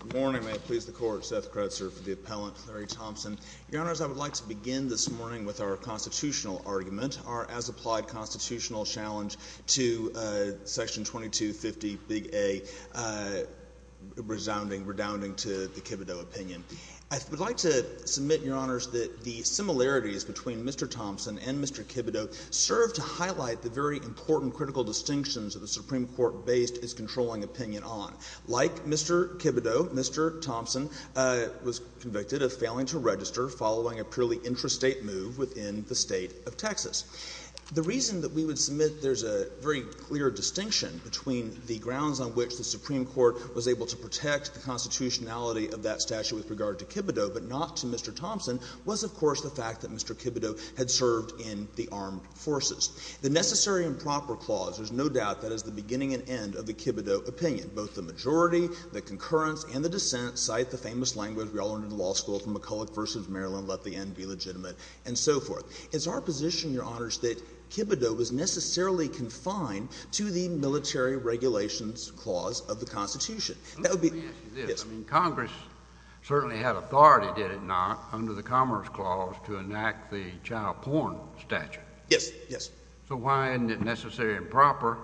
Good morning. May it please the Court, Seth Kretzer for the Appellant, Larry Thompson. Your Honors, I would like to begin this morning with our constitutional argument, our as-applied constitutional challenge to Section 2250, Big A, resounding, redounding to the Kibido opinion. I would like to submit, Your Honors, that the similarities between Mr. Thompson and Mr. Kibido serve to highlight the very important critical distinctions that the Supreme Court based its controlling opinion on. Like Mr. Kibido, Mr. Thompson was convicted of failing to register following a purely intrastate move within the State of Texas. The reason that we would submit there's a very clear distinction between the grounds on which the Supreme Court was able to protect the constitutionality of that statute with regard to Kibido but not to Mr. Thompson was, of course, the fact that Mr. Kibido had served in the armed forces. The necessary and proper clause, there's no doubt, that is the beginning and end of the Kibido opinion. Both the majority, the concurrence, and the dissent cite the famous language we all learned in law school from McCulloch v. Maryland, let the end be legitimate, and so forth. It's our position, Your Honors, that Kibido was necessarily confined to the military regulations clause of the Constitution. That would be— JUSTICE KENNEDY Let me ask you this. MR. THOMPSON Yes. JUSTICE KENNEDY I mean, Congress certainly had authority, did it not, under the Commerce Clause to enact the child porn statute? MR. THOMPSON Yes, yes. JUSTICE KENNEDY So why isn't it necessary and proper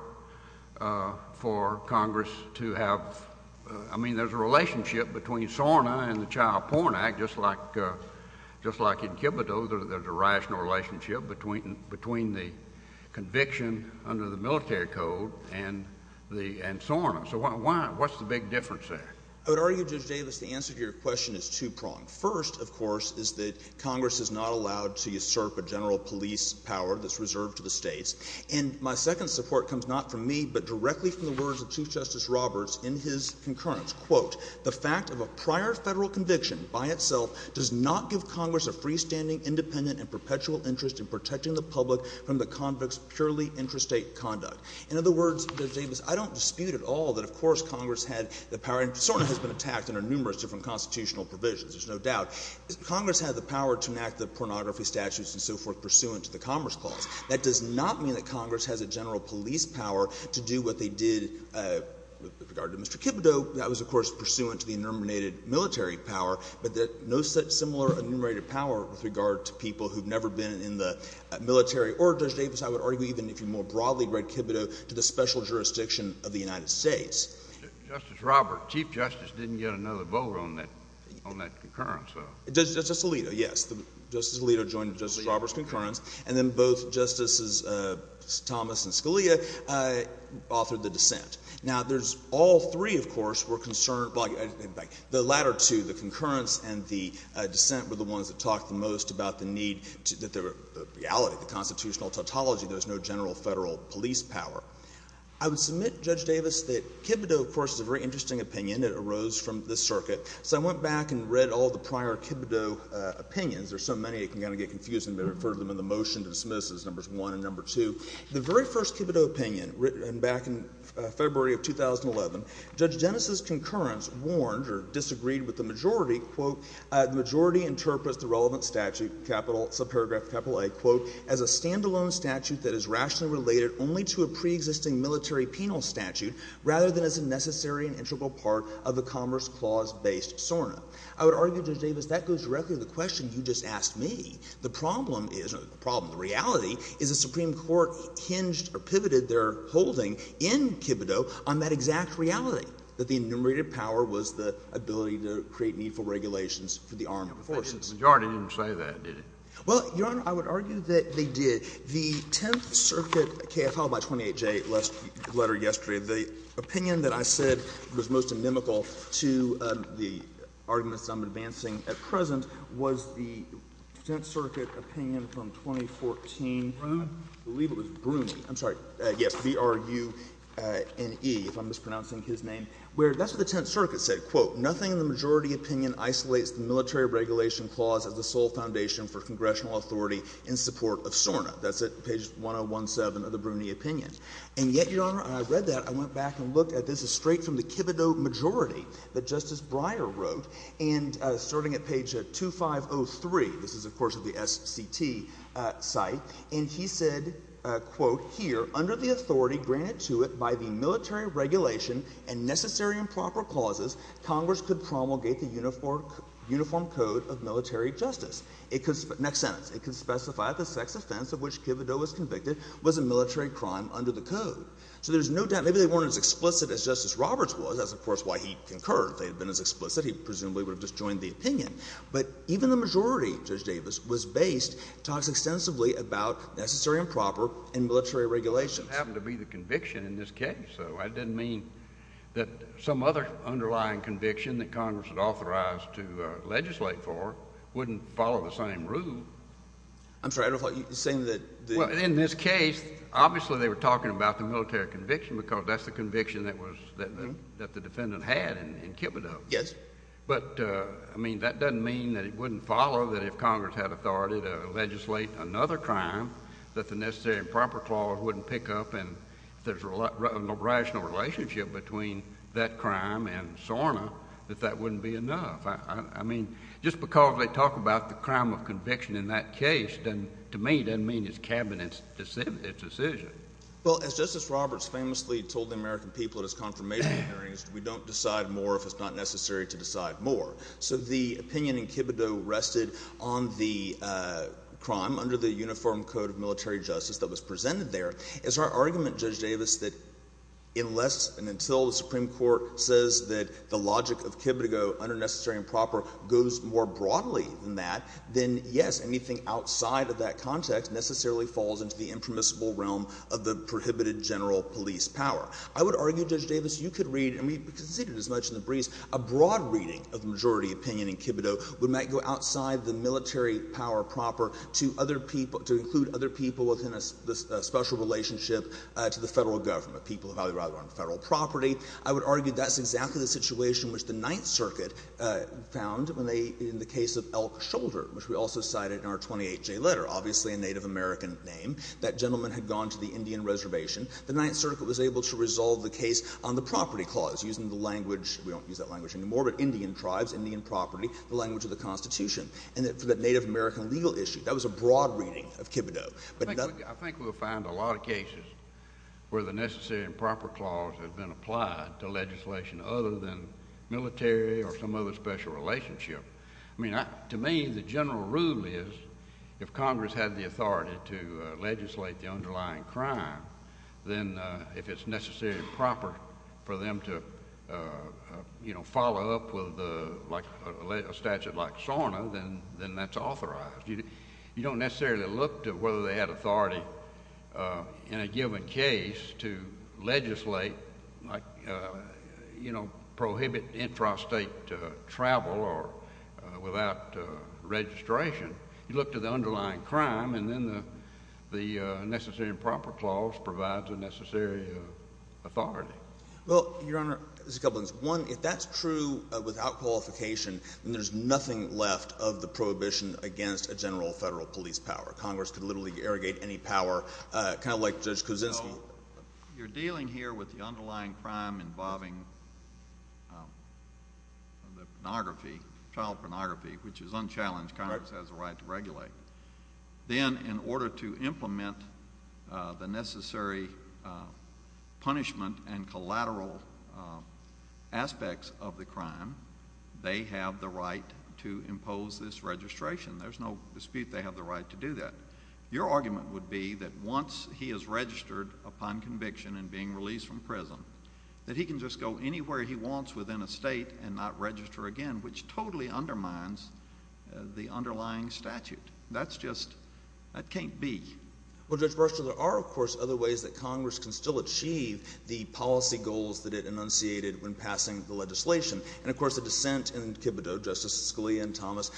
for Congress to have—I mean, there's a relationship between SORNA and the Child Porn Act, just like in Kibido, there's a rational relationship between the conviction under the military code and SORNA. So what's the big difference there? MR. THOMPSON I would argue, Judge Davis, the answer to your question is two-pronged. First, of course, is that Congress is not allowed to usurp a general police power that's in the hands of the states. And my second support comes not from me, but directly from the words of Chief Justice Roberts in his concurrence, quote, the fact of a prior Federal conviction by itself does not give Congress a freestanding, independent, and perpetual interest in protecting the public from the convict's purely interstate conduct. In other words, Judge Davis, I don't dispute at all that, of course, Congress had the power—and SORNA has been attacked under numerous different constitutional provisions, there's no doubt—Congress had the power to enact the pornography statutes and so forth pursuant to the Commerce Clause. That does not mean that Congress has a general police power to do what they did with regard to Mr. Kibido. That was, of course, pursuant to the enumerated military power, but no such similar enumerated power with regard to people who've never been in the military or, Judge Davis, I would argue even if you more broadly read Kibido, to the special jurisdiction of the United States. JUSTICE KENNEDY Justice Roberts, Chief Justice didn't get another vote on that concurrence, though. MR. WHEELER Justice Alito, yes. Justice Alito joined Justice Roberts' concurrence, and then both Justices Thomas and Scalia authored the dissent. Now, there's all three, of course, were concerned—the latter two, the concurrence and the dissent, were the ones that talked the most about the need—the reality, the constitutional tautology there was no general Federal police power. I would submit, Judge Davis, that Kibido, of course, is a very interesting opinion. It arose from the circuit. So I went back and read all the prior Kibido opinions. There's so many, it can kind of get confusing, but I referred them in the motion to dismiss as numbers one and number two. The very first Kibido opinion, written back in February of 2011, Judge Dennis' concurrence warned or disagreed with the majority, quote, the majority interprets the relevant statute, capital—subparagraph capital A, quote, as a standalone statute that is rationally related only to a preexisting military penal statute, rather than as a necessary and integral part of a Commerce Clause-based SORNA. I would argue, Judge Davis, that goes directly to the question you just asked me. The problem is—not the problem, the reality is the Supreme Court hinged or pivoted their holding in Kibido on that exact reality, that the enumerated power was the ability to create needful regulations for the armed forces. Kennedy. The majority didn't say that, did it? The Tenth Circuit KFL, by 28J, letter yesterday, the opinion that I said was most inimical to the arguments that I'm advancing at present was the Tenth Circuit opinion from 2014, I believe it was Bruni, I'm sorry, yes, B-r-u-n-e, if I'm mispronouncing his name, where that's what the Tenth Circuit said, quote, nothing in the majority opinion isolates the military regulation clause as the sole foundation for congressional in support of SORNA. That's at page 1017 of the Bruni opinion. And yet, Your Honor, I read that, I went back and looked at this, it's straight from the Kibido majority that Justice Breyer wrote, and starting at page 2503, this is, of course, of the SCT site, and he said, quote, here, under the authority granted to it by the military regulation and necessary and proper clauses, Congress could promulgate the uniform code of military justice. Next sentence, it could specify the sex offense of which Kibido was convicted was a military crime under the code. So there's no doubt, maybe they weren't as explicit as Justice Roberts was, that's, of course, why he concurred. If they had been as explicit, he presumably would have just joined the opinion. But even the majority, Judge Davis was based, talks extensively about necessary and proper and military regulations. That doesn't happen to be the conviction in this case, so I didn't mean that some other underlying conviction that Congress would authorize to legislate for wouldn't follow the same rule. I'm sorry, I don't know if you're saying that the— Well, in this case, obviously they were talking about the military conviction because that's the conviction that was — that the defendant had in Kibido. Yes. But, I mean, that doesn't mean that it wouldn't follow that if Congress had authority to legislate another crime that the necessary and proper clause wouldn't pick up, and if there's a rational relationship between that crime and SORNA, that that wouldn't be enough. I mean, just because they talk about the crime of conviction in that case doesn't — to me, doesn't mean it's Cabinet's decision. Well, as Justice Roberts famously told the American people at his confirmation hearings, we don't decide more if it's not necessary to decide more. So the opinion in Kibido rested on the crime under the Uniform Code of Military Justice that was presented there. As our argument, Judge Davis, that unless and until the Supreme Court says that the logic of Kibido, under necessary and proper, goes more broadly than that, then, yes, anything outside of that context necessarily falls into the impermissible realm of the prohibited general police power. I would argue, Judge Davis, you could read — and we considered as much in the briefs — a broad reading of the majority opinion in Kibido would not go outside the military power proper to other people — to include other people within a special relationship to the Federal Government, people who value rather on Federal property. I would argue that's exactly the situation which the Ninth Circuit found when they — in the case of Elk Shoulder, which we also cited in our 28J letter, obviously a Native American name. That gentleman had gone to the Indian reservation. The Ninth Circuit was able to resolve the case on the property clause, using the language — we don't use that language anymore, but Indian tribes, Indian property, the language of the Constitution, and for the Native American legal issue. That was a broad reading of Kibido. JUSTICE KENNEDY I think we'll find a lot of cases where the necessary and proper clause has been applied to legislation other than military or some other special relationship. I mean, to me, the general rule is, if Congress had the authority to legislate the underlying crime, then if it's necessary and proper for them to, you know, pass a statute like SORNA, then that's authorized. You don't necessarily look to whether they had authority in a given case to legislate, like, you know, prohibit intrastate travel or — without registration. You look to the underlying crime, and then the necessary and proper clause provides a necessary authority. MR. WARREN Well, Your Honor, just a couple things. One, if that's true without qualification, then there's nothing left of the prohibition against a general federal police power. Congress could literally irrigate any power, kind of like JUSTICE KENNEDY No. You're dealing here with the underlying crime involving the pornography, child pornography, which is unchallenged. Congress has the right to regulate. Then, in order to implement the necessary punishment and collateral aspects of the crime, they have the right to impose this registration. There's no dispute they have the right to do that. Your argument would be that once he is registered upon conviction and being released from prison, that he can just go anywhere he wants within a state and not register again, which totally undermines the underlying statute. That's just — that can't be. MR. WARREN Well, Judge Burschel, there are, of course, other ways that Congress can still achieve the policy goals that it enunciated when passing the legislation. And, of course, the dissent in Kibito, Justice Scalia and Thomas,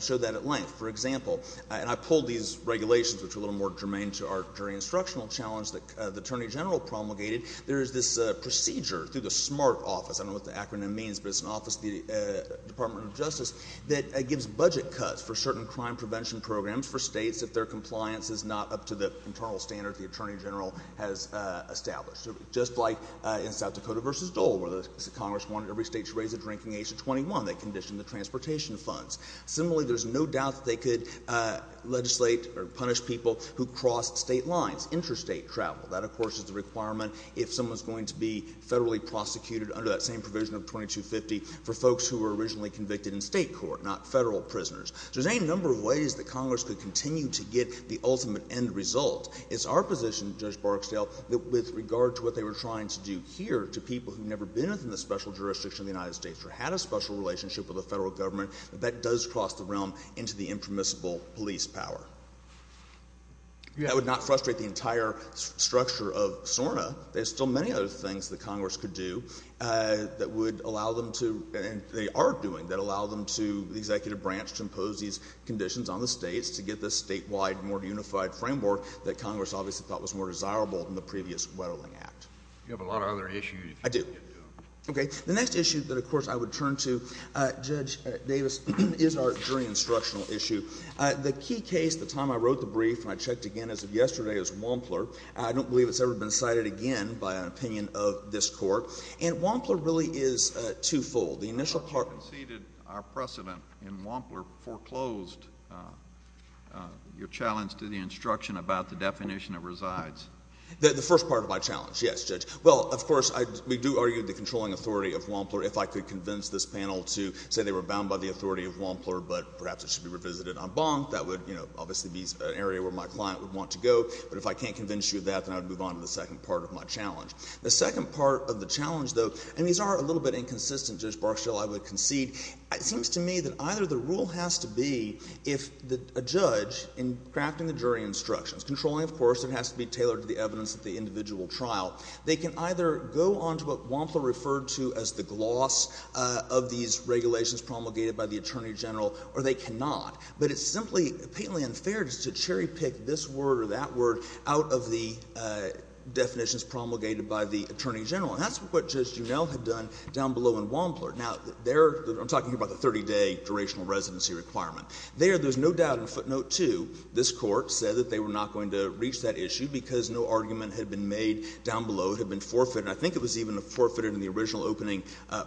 showed that at length. For example — and I pulled these regulations, which are a little more germane to our jury instructional challenge that the Attorney General promulgated — there is this procedure through the SMART office — I don't know what the acronym means, but it's an office of the Department of Justice — that gives budget cuts for certain crime prevention programs for states if their compliance is not up to the internal standard the Attorney General has established. Just like in South Dakota v. Dole, where the Congress wanted every state to raise the drinking age to 21, they conditioned the transportation funds. Similarly, there's no doubt that they could legislate or punish people who cross state lines, interstate travel. That, of course, is the requirement if someone's going to be federally prosecuted under that same provision of 2250 for folks who were originally convicted in state court, not federal prisoners. So there's any number of ways that Congress could continue to get the ultimate end result. It's our position, Judge Barksdale, that with regard to what they were trying to do here to people who've never been within the special jurisdiction of the United States or had a special relationship with the federal government, that that does cross the realm into the impermissible police power. I would not frustrate the entire structure of SORNA. There's still many other things that Congress could do that would allow them to — and they are doing — that allow them to, the executive branch, to impose these conditions on the states to get this statewide more unified framework that Congress obviously thought was more desirable in the previous Weddelling Act. You have a lot of other issues. I do. Okay. The next issue that, of course, I would turn to, Judge Davis, is our jury instructional issue. The key case, the time I wrote the brief and I checked again as of yesterday, is Wampler. I don't believe it's ever been cited again by an opinion of this Court. And Wampler really is twofold. The initial part — You conceded our precedent in Wampler foreclosed your challenge to the instruction about the definition that resides. The first part of my challenge, yes, Judge. Well, of course, we do argue the controlling authority of Wampler. If I could convince this panel to say they were bound by the authority of Wampler, but perhaps it should be revisited on Bonk, that would, you know, obviously be an area where my client would want to go. But if I can't convince you of that, then I would move on to the second part of my challenge. The second part of the challenge, though — and these are a little bit inconsistent, Judge Barksdale, I would concede. It seems to me that either the rule has to be if a judge in crafting the jury instructions — controlling, of course, it has to be tailored to the evidence of the individual trial — they can either go on to what Wampler referred to as the gloss of these regulations promulgated by the Attorney General, or they cannot. But it's simply palely unfair just to cherry-pick this word or that word out of the definitions promulgated by the Attorney General. And that's what Judge Juneau had done down below in Wampler. Now, there — I'm talking about the 30-day durational residency requirement. There, there's no doubt in footnote 2 this Court said that they were not going to reach that issue because no argument had been made down below. It had been forfeited. I think it was even forfeited in the original opening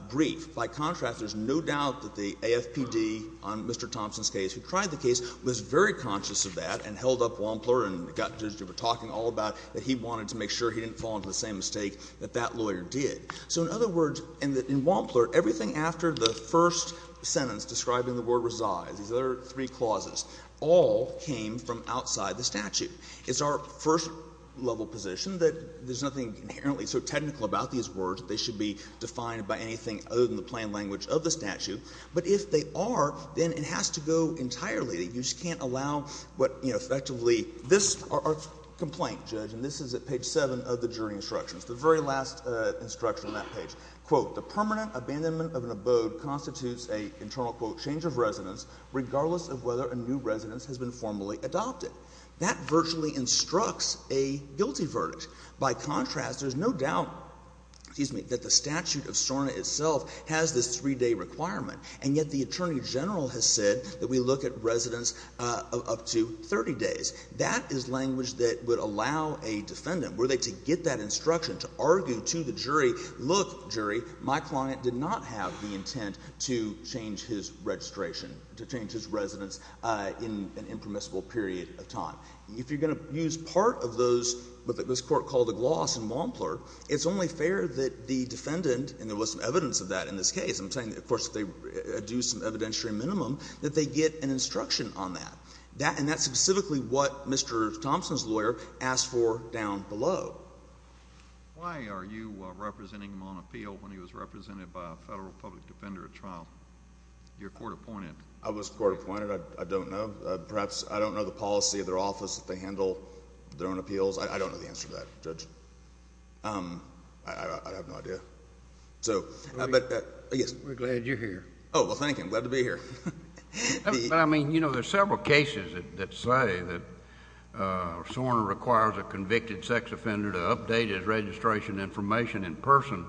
brief. By contrast, there's no doubt that the AFPD on Mr. Thompson's case, who tried the case, was very conscious of that and held up Wampler and got — as you were talking all about, that he wanted to make sure he didn't fall into the same mistake that that lawyer did. So in other words — and in Wampler, everything after the first sentence describing the word resides, these other three clauses, all came from outside the statute. It's our first-level position that there's nothing inherently so technical about these words that they should be defined by anything other than the plain language of the statute. But if they are, then it has to go entirely. You just can't allow what, you know, effectively this — our complaint, Judge, and this is at page 7 of the jury instructions, the very last instruction on that page, quote, the permanent abandonment of an abode constitutes a internal, quote, change of residence, regardless of whether a new residence has been formally adopted. That virtually instructs a guilty verdict. By contrast, there's no doubt, excuse me, that the statute of SORNA itself has this three-day requirement, and yet the attorney general has said that we look at residence up to 30 days. That is language that would allow a defendant, were they to get that instruction, to argue to the jury, look, jury, my client did not have the intent to change his registration, to change his residence in an impermissible period of time. If you're going to use part of those, what this Court called a gloss and wampler, it's only fair that the defendant, and there was some evidence of that in this case, I'm saying, of course, that they do some evidentiary minimum, that they get an instruction on that. That — and that's specifically what Mr. Thompson's lawyer asked for down below. Why are you representing him on appeal when he was represented by a federal public defender at trial, your court appointed? I was court appointed. I don't know. Perhaps — I don't know the policy of their office that they handle their own appeals. I don't know the answer to that, Judge. I have no idea. So — We're glad you're here. Oh, well, thank you. I'm glad to be here. But, I mean, you know, there are several cases that say that SORNA requires a convicted sex offender to update his registration information in person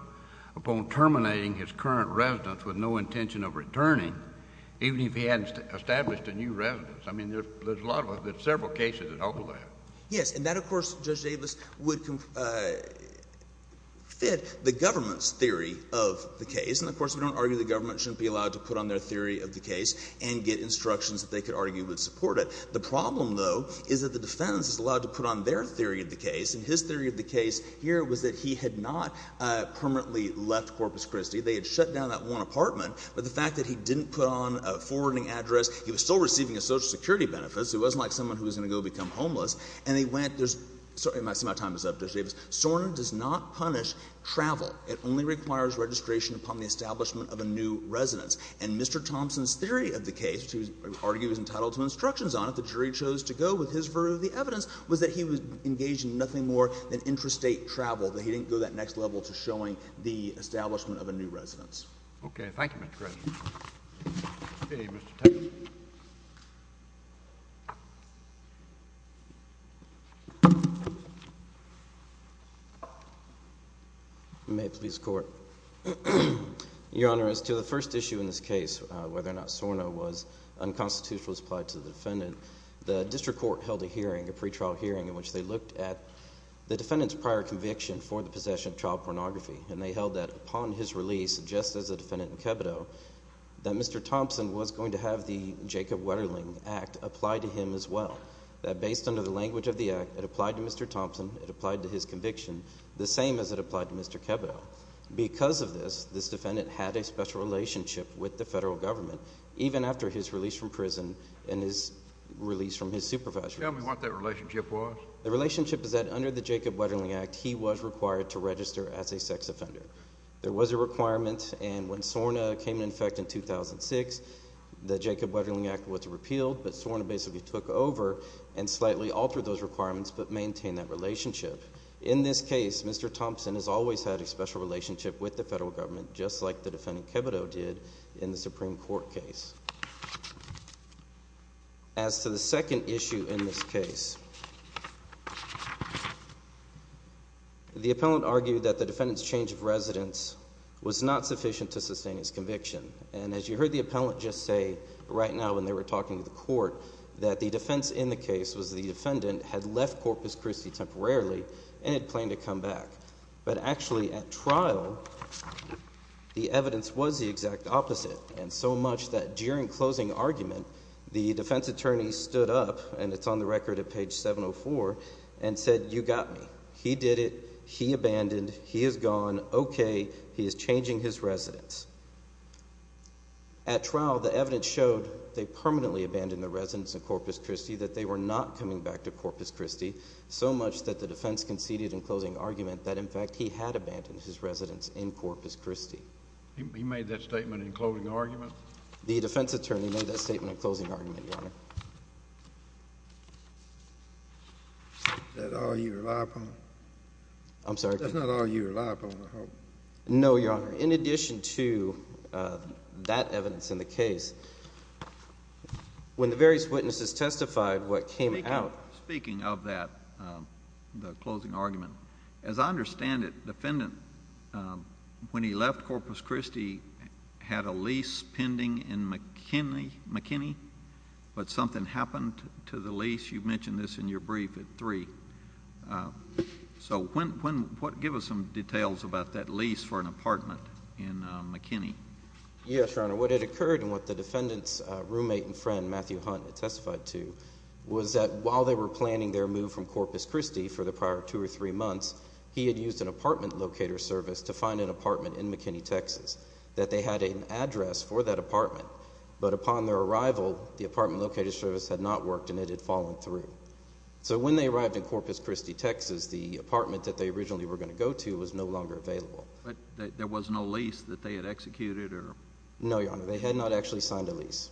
upon terminating his current residence with no intention of returning, even if he hadn't established a new residence. I mean, there's a lot of — there's several cases that offer that. Yes. And that, of course, Judge Davis, would fit the government's theory of the case. And, of course, we don't argue the government shouldn't be allowed to put on their theory of the case and get instructions that they could argue would support it. The problem, though, is that the defendant is allowed to put on their theory of the case. And his theory of the case here was that he had not permanently left Corpus Christi. They had shut down that one apartment. But the fact that he didn't put on a forwarding address, he was still receiving a Social Security benefit, so he wasn't like someone who was going to go become homeless. And they went — there's — I'm sorry, my time is up, Judge Davis — SORNA does not punish travel. It only requires registration upon the establishment of a new residence. And Mr. Thompson's theory of the case, which he argues is entitled to instructions on if the jury chose to go with his version of the evidence, was that he was engaged in nothing more than intrastate travel, that he didn't go that next level to showing the establishment of a new residence. Okay. Thank you, Mr. Cressy. Okay, Mr. Thompson. May it please the Court. Your Honor, as to the first issue in this case, whether or not SORNA was unconstitutional as applied to the defendant, the district court held a hearing, a pretrial hearing, in which they looked at the defendant's prior conviction for the possession of child pornography, and they held that, upon his release, just as the defendant in Kebido, that Mr. Thompson was going to have the Jacob Wetterling Act apply to him as well, that based under the language of the act, it applied to Mr. Thompson, it applied to his conviction, the same as it applied to Mr. Kebido. Because of this, this defendant had a special relationship with the federal government, even after his release from prison and his release from his supervisory — Tell me what that relationship was. The relationship is that, under the Jacob Wetterling Act, he was required to register as a sex offender. There was a requirement, and when SORNA came into effect in 2006, the Jacob Wetterling Act was repealed, but SORNA basically took over and slightly altered those requirements, but maintained that relationship. In this case, Mr. Thompson has always had a special relationship with the federal government, just like the defendant Kebido did in the Supreme Court case. As to the second issue in this case, the appellant argued that the defendant's change of residence was not sufficient to sustain his conviction, and as you heard the appellant just say, right now when they were talking to the court, that the defense in the case was the defendant had left Corpus Christi temporarily and had planned to come back, but actually, at trial, the evidence was the exact opposite, and so much that during closing argument, the defense attorney stood up, and it's on the record at page 704, and said, you got me. He did it. He abandoned. He is gone. Okay. He is changing his residence. At trial, the evidence showed they permanently abandoned the residence in Corpus Christi, that they were not coming back to Corpus Christi, so much that the defense conceded in closing argument that, in fact, he had abandoned his residence in Corpus Christi. He made that statement in closing argument? The defense attorney made that statement in closing argument, Your Honor. Is that all you rely upon? I'm sorry. That's not all you rely upon, I hope. No, Your Honor. In addition to that evidence in the case, when the various witnesses testified, what As I understand it, the defendant, when he left Corpus Christi, had a lease pending in McKinney, but something happened to the lease. You mentioned this in your brief at 3. So give us some details about that lease for an apartment in McKinney. Yes, Your Honor. What had occurred, and what the defendant's roommate and friend, Matthew Hunt, testified to, was that while they were planning their move from Corpus Christi for the prior two or three months, he had used an apartment locator service to find an apartment in McKinney, Texas, that they had an address for that apartment, but upon their arrival, the apartment locator service had not worked and it had fallen through. So when they arrived in Corpus Christi, Texas, the apartment that they originally were going to go to was no longer available. There was no lease that they had executed? No, Your Honor. They had not actually signed a lease,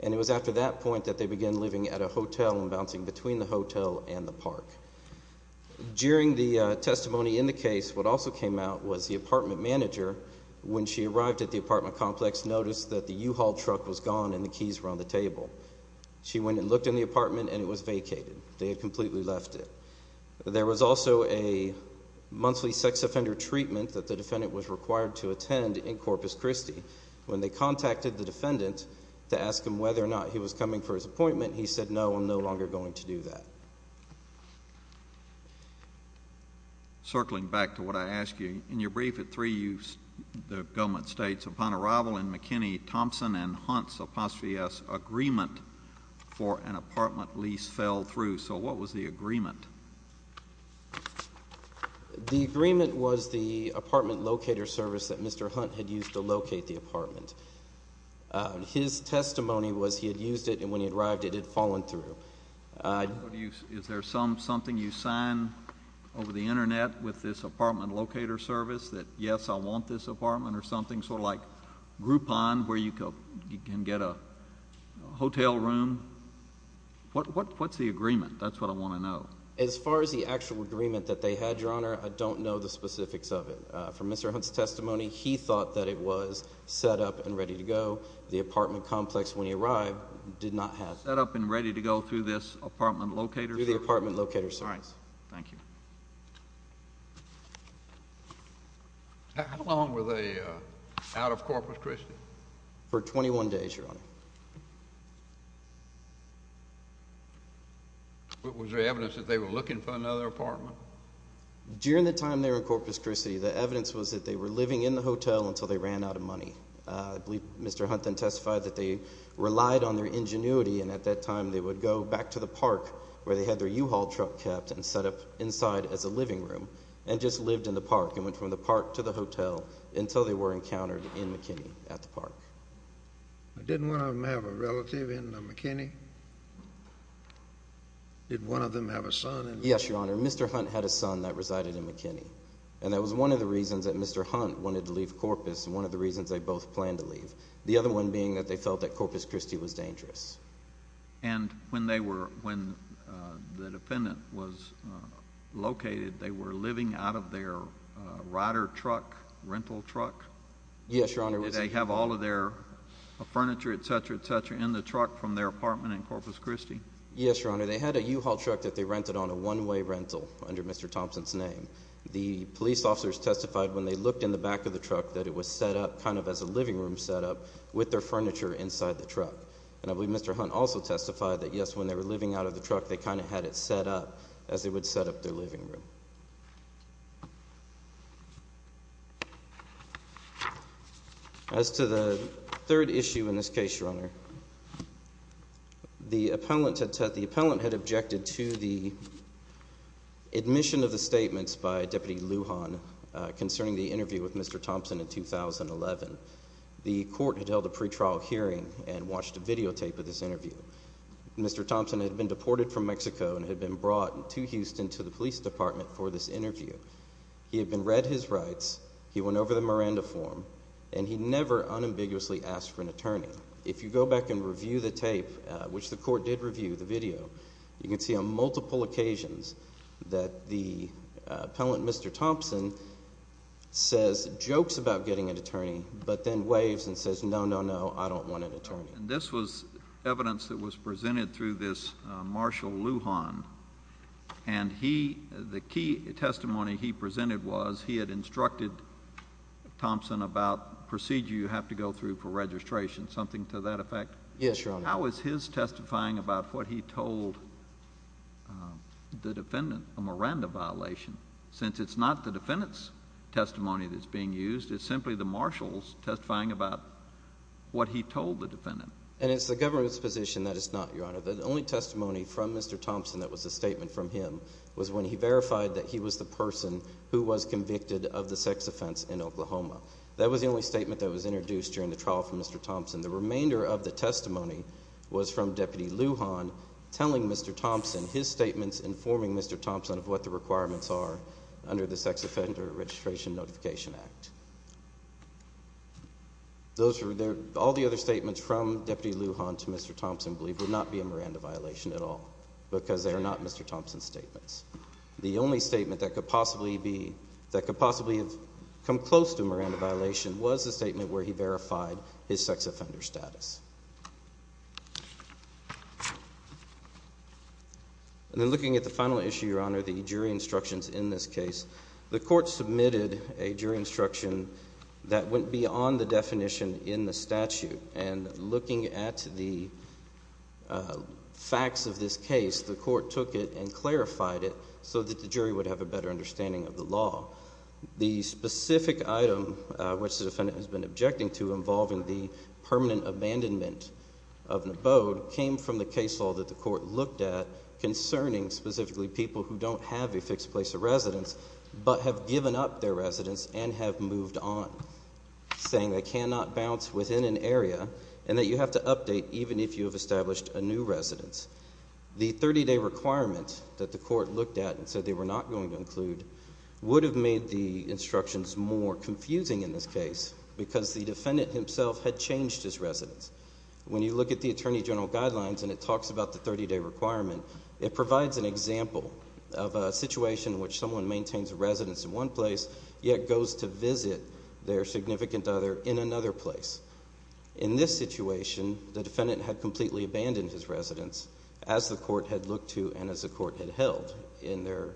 and it was after that point that they began living at a hotel and bouncing between the hotel and the park. During the testimony in the case, what also came out was the apartment manager, when she arrived at the apartment complex, noticed that the U-Haul truck was gone and the keys were on the table. She went and looked in the apartment and it was vacated. They had completely left it. There was also a monthly sex offender treatment that the defendant was required to attend in Corpus Christi. When they contacted the defendant to ask him whether or not he was coming for his appointment, he said, no, I'm no longer going to do that. Circling back to what I asked you, in your brief at 3, the government states, upon arrival in McKinney Thompson and Hunt's apostrophe S agreement for an apartment lease fell through. So what was the agreement? The agreement was the apartment locator service that Mr. Hunt had used to locate the apartment. His testimony was he had used it and when he arrived, it had fallen through. Is there something you sign over the internet with this apartment locator service that, yes, I want this apartment or something, sort of like Groupon, where you can get a hotel room? What's the agreement? That's what I want to know. As far as the actual agreement that they had, Your Honor, I don't know the specifics of it. But from Mr. Hunt's testimony, he thought that it was set up and ready to go. The apartment complex, when he arrived, did not have it. Set up and ready to go through this apartment locator service? Through the apartment locator service. All right. Thank you. How long were they out of Corpus Christi? For 21 days, Your Honor. Was there evidence that they were looking for another apartment? During the time they were in Corpus Christi, the evidence was that they were living in the hotel until they ran out of money. I believe Mr. Hunt then testified that they relied on their ingenuity and at that time they would go back to the park where they had their U-Haul truck kept and set up inside as a living room and just lived in the park and went from the park to the hotel until they were encountered in McKinney at the park. Didn't one of them have a relative in McKinney? Did one of them have a son in McKinney? Yes, Your Honor. Mr. Hunt had a son that resided in McKinney and that was one of the reasons that Mr. Hunt wanted to leave Corpus and one of the reasons they both planned to leave. The other one being that they felt that Corpus Christi was dangerous. And when the defendant was located, they were living out of their Ryder truck, rental truck? Yes, Your Honor. Did they have all of their furniture, et cetera, et cetera, in the truck from their apartment in Corpus Christi? Yes, Your Honor. They had a U-Haul truck that they rented on a one-way rental under Mr. Thompson's name. The police officers testified when they looked in the back of the truck that it was set up kind of as a living room set up with their furniture inside the truck. And I believe Mr. Hunt also testified that, yes, when they were living out of the truck, they kind of had it set up as they would set up their living room. As to the third issue in this case, Your Honor, the appellant had objected to the admission of the statements by Deputy Lujan concerning the interview with Mr. Thompson in 2011. The court had held a pretrial hearing and watched a videotape of this interview. Mr. Thompson had been deported from Mexico and had been brought to Houston to the police department for this interview. He had been read his rights, he went over the Miranda form, and he never unambiguously asked for an attorney. If you go back and review the tape, which the court did review, the video, you can see on multiple occasions that the appellant, Mr. Thompson, jokes about getting an attorney, but then waves and says, no, no, no, I don't want an attorney. And this was evidence that was presented through this Marshal Lujan, and he, the key testimony he presented was he had instructed Thompson about procedure you have to go through for registration, something to that effect. Yes, Your Honor. How is his testifying about what he told the defendant a Miranda violation, since it's not the defendant's testimony that's being used, it's simply the Marshal's testifying about what he told the defendant? And it's the government's position that it's not, Your Honor. The only testimony from Mr. Thompson that was a statement from him was when he verified that he was the person who was convicted of the sex offense in Oklahoma. That was the only statement that was introduced during the trial from Mr. Thompson. The remainder of the testimony was from Deputy Lujan telling Mr. Thompson, his statements informing Mr. Thompson of what the requirements are under the Sex Offender Registration Notification Act. All the other statements from Deputy Lujan to Mr. Thompson, I believe, would not be a Miranda violation at all, because they are not Mr. Thompson's statements. The only statement that could possibly have come close to a Miranda violation was the statement where he verified his sex offender status. And then looking at the final issue, Your Honor, the jury instructions in this case, the court submitted a jury instruction that went beyond the definition in the statute. And looking at the facts of this case, the court took it and clarified it so that the jury would have a better understanding of the law. The specific item which the defendant has been objecting to involving the permanent abandonment of an abode came from the case law that the court looked at concerning specifically people who don't have a fixed place of residence but have given up their residence and have moved on, saying they cannot bounce within an area and that you have to update even if you have established a new residence. The 30-day requirement that the court looked at and said they were not going to include would have made the instructions more confusing in this case, because the defendant himself had changed his residence. When you look at the Attorney General Guidelines and it talks about the 30-day requirement, it provides an example of a situation in which someone maintains a residence in one place yet goes to visit their significant other in another place. In this situation, the defendant had completely abandoned his residence as the court had looked to and as the court had held. In their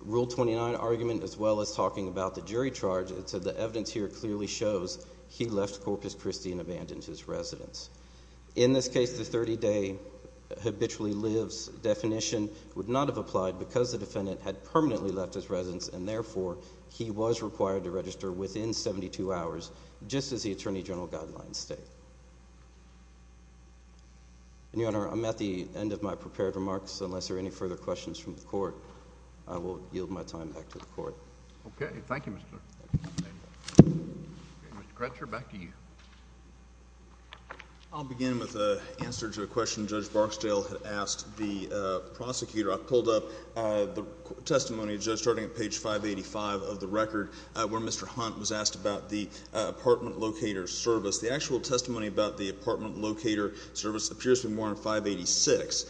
Rule 29 argument, as well as talking about the jury charge, it said the evidence here clearly shows he left Corpus Christi and abandoned his residence. In this case, the 30-day habitually lives definition would not have applied because the defendant had permanently left his residence and, therefore, he was required to register within 72 hours, just as the Attorney General Guidelines state. And, Your Honor, I'm at the end of my prepared remarks, so unless there are any further questions from the court, I will yield my time back to the court. Okay. Thank you, Mr. Chairman. Mr. Crutcher, back to you. I'll begin with an answer to a question Judge Barksdale had asked the prosecutor. I pulled up the testimony, starting at page 585 of the record, where Mr. Hunt was asked about the apartment locator service. The actual testimony about the apartment locator service appears to be more on 586.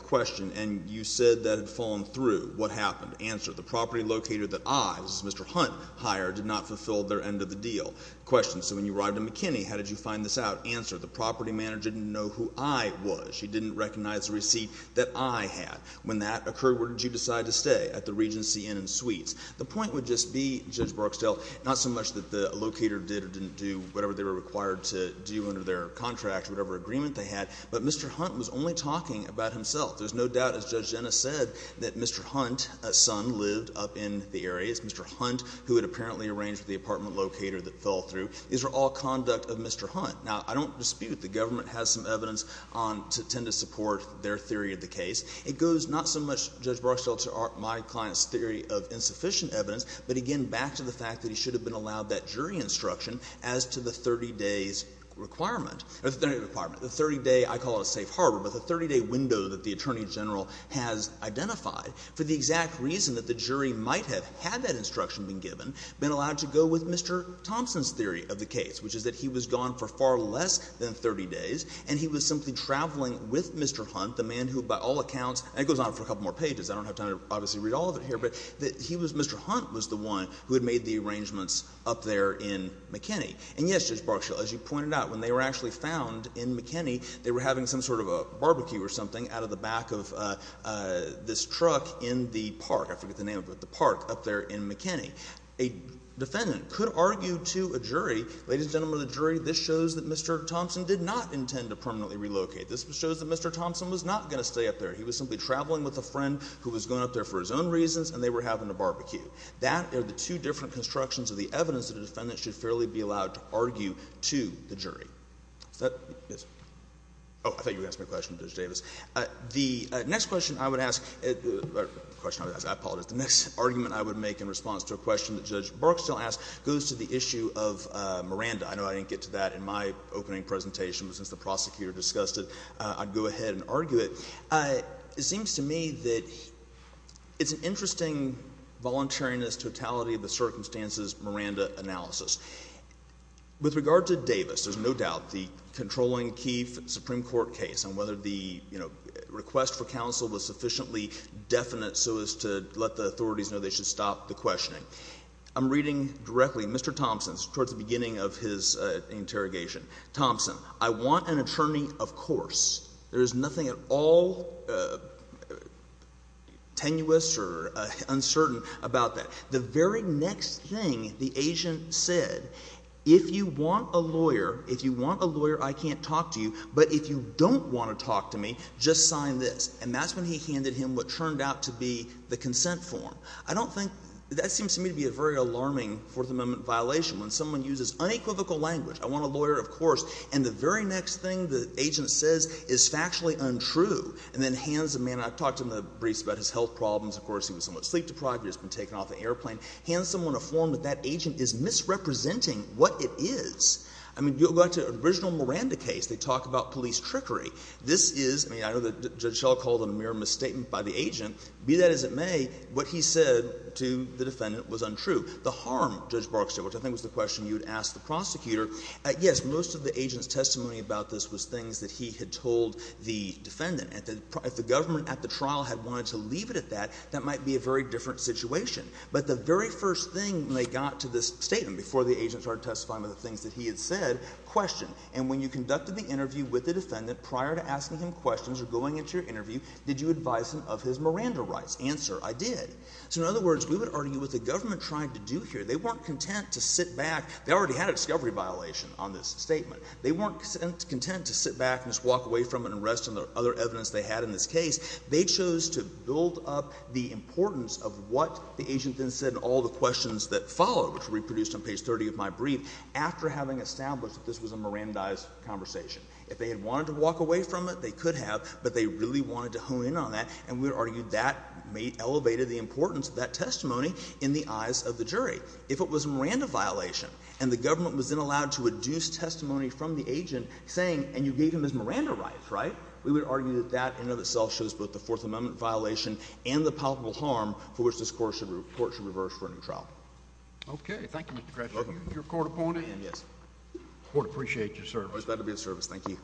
Question, and you said that had fallen through. What happened? Answer, the property locator that I, as Mr. Hunt, hired did not fulfill their end of the deal. Question, so when you arrived in McKinney, how did you find this out? Answer, the property manager didn't know who I was. She didn't recognize the receipt that I had. When that occurred, where did you decide to stay? At the Regency Inn and Suites. The point would just be, Judge Barksdale, not so much that the locator did or didn't do whatever they were required to do under their contract, whatever agreement they had, but Mr. Hunt was only talking about himself. There's no doubt, as Judge Jenna said, that Mr. Hunt, a son, lived up in the area. It's Mr. Hunt who had apparently arranged with the apartment locator that fell through. These are all conduct of Mr. Hunt. Now, I don't dispute the government has some evidence on to tend to support their theory of the case. It goes not so much, Judge Barksdale, to my client's theory of insufficient evidence, but, again, back to the fact that he should have been allowed that jury instruction as to the 30 days requirement, or the 30-day requirement, the 30-day I call it a safe harbor, but the 30-day window that the attorney general has identified for the exact reason that the jury might have had that instruction been given, been allowed to go with Mr. Thompson's theory of the case, which is that he was gone for far less than 30 days, and he was simply traveling with Mr. Hunt, the man who, by all accounts, and it goes on for a couple more pages. I don't have time to obviously read all of it here, but he was Mr. Hunt was the one who had made the arrangements up there in McKinney. And, yes, Judge Barksdale, as you pointed out, when they were actually found in McKinney, they were having some sort of a barbecue or something out of the back of this truck, in the park, I forget the name of it, the park up there in McKinney. A defendant could argue to a jury, ladies and gentlemen of the jury, this shows that Mr. Thompson did not intend to permanently relocate. This shows that Mr. Thompson was not going to stay up there. He was simply traveling with a friend who was going up there for his own reasons, and they were having a barbecue. That are the two different constructions of the evidence that a defendant should fairly be allowed to argue to the jury. Is that? Yes. Oh, I thought you were going to ask me a question, Judge Davis. The next question I would ask, or the question I would ask, I apologize, the next argument I would make in response to a question that Judge Barksdale asked goes to the issue of Miranda. I know I didn't get to that in my opening presentation, but since the prosecutor discussed it, I'd go ahead and argue it. It seems to me that it's an interesting voluntariness, totality of the circumstances Miranda analysis. With regard to Davis, there's no doubt the controlling Keefe Supreme Court case on whether the request for counsel was sufficiently definite so as to let the authorities know they should stop the questioning. I'm reading directly, Mr. Thompson's, towards the beginning of his interrogation. Thompson, I want an attorney, of course. There is nothing at all tenuous or uncertain about that. The very next thing the agent said, if you want a lawyer, if you want a lawyer, I can't talk to you. But if you don't want to talk to me, just sign this. And that's when he handed him what turned out to be the consent form. I don't think, that seems to me to be a very alarming Fourth Amendment violation, when someone uses unequivocal language, I want a lawyer, of course, and the very next thing the agent says is factually untrue, and then hands the man, I've talked in the briefs about his health problems, of course, he was somewhat sleep-deprived, he's been taken off the airplane, hands someone a form that that agent is misrepresenting what it is. I mean, you go back to the original Miranda case, they talk about police trickery. This is, I mean, I know that Judge Schell called it a mere misstatement by the agent. Be that as it may, what he said to the defendant was untrue. The harm, Judge Barksdale, which I think was the question you had asked the prosecutor, yes, most of the agent's testimony about this was things that he had told the defendant. If the government at the trial had wanted to leave it at that, that might be a very different situation. But the very first thing when they got to this statement, before the agent started testifying about the things that he had said, question. And when you conducted the interview with the defendant prior to asking him questions or going into your interview, did you advise him of his Miranda rights? Answer, I did. So in other words, we would argue what the government tried to do here. They weren't content to sit back, they already had a discovery violation on this statement. They weren't content to sit back and just walk away from it and rest on the other evidence they had in this case. They chose to build up the importance of what the agent then said and all the questions that followed, which were reproduced on page 30 of my brief, after having established that this was a Mirandize conversation. If they had wanted to walk away from it, they could have, but they really wanted to hone in on that. And we would argue that may have elevated the importance of that testimony in the eyes of the jury. If it was a Miranda violation and the government was then allowed to adduce testimony from the agent saying, and you gave him his Miranda rights, right, we would argue that that in and of itself shows both the Fourth Amendment violation and the palpable harm for which this Court should reverse for a new trial. Okay. Thank you, Mr. Gretzky. You're a court opponent and the Court appreciates your service. That'll be a service. Thank you.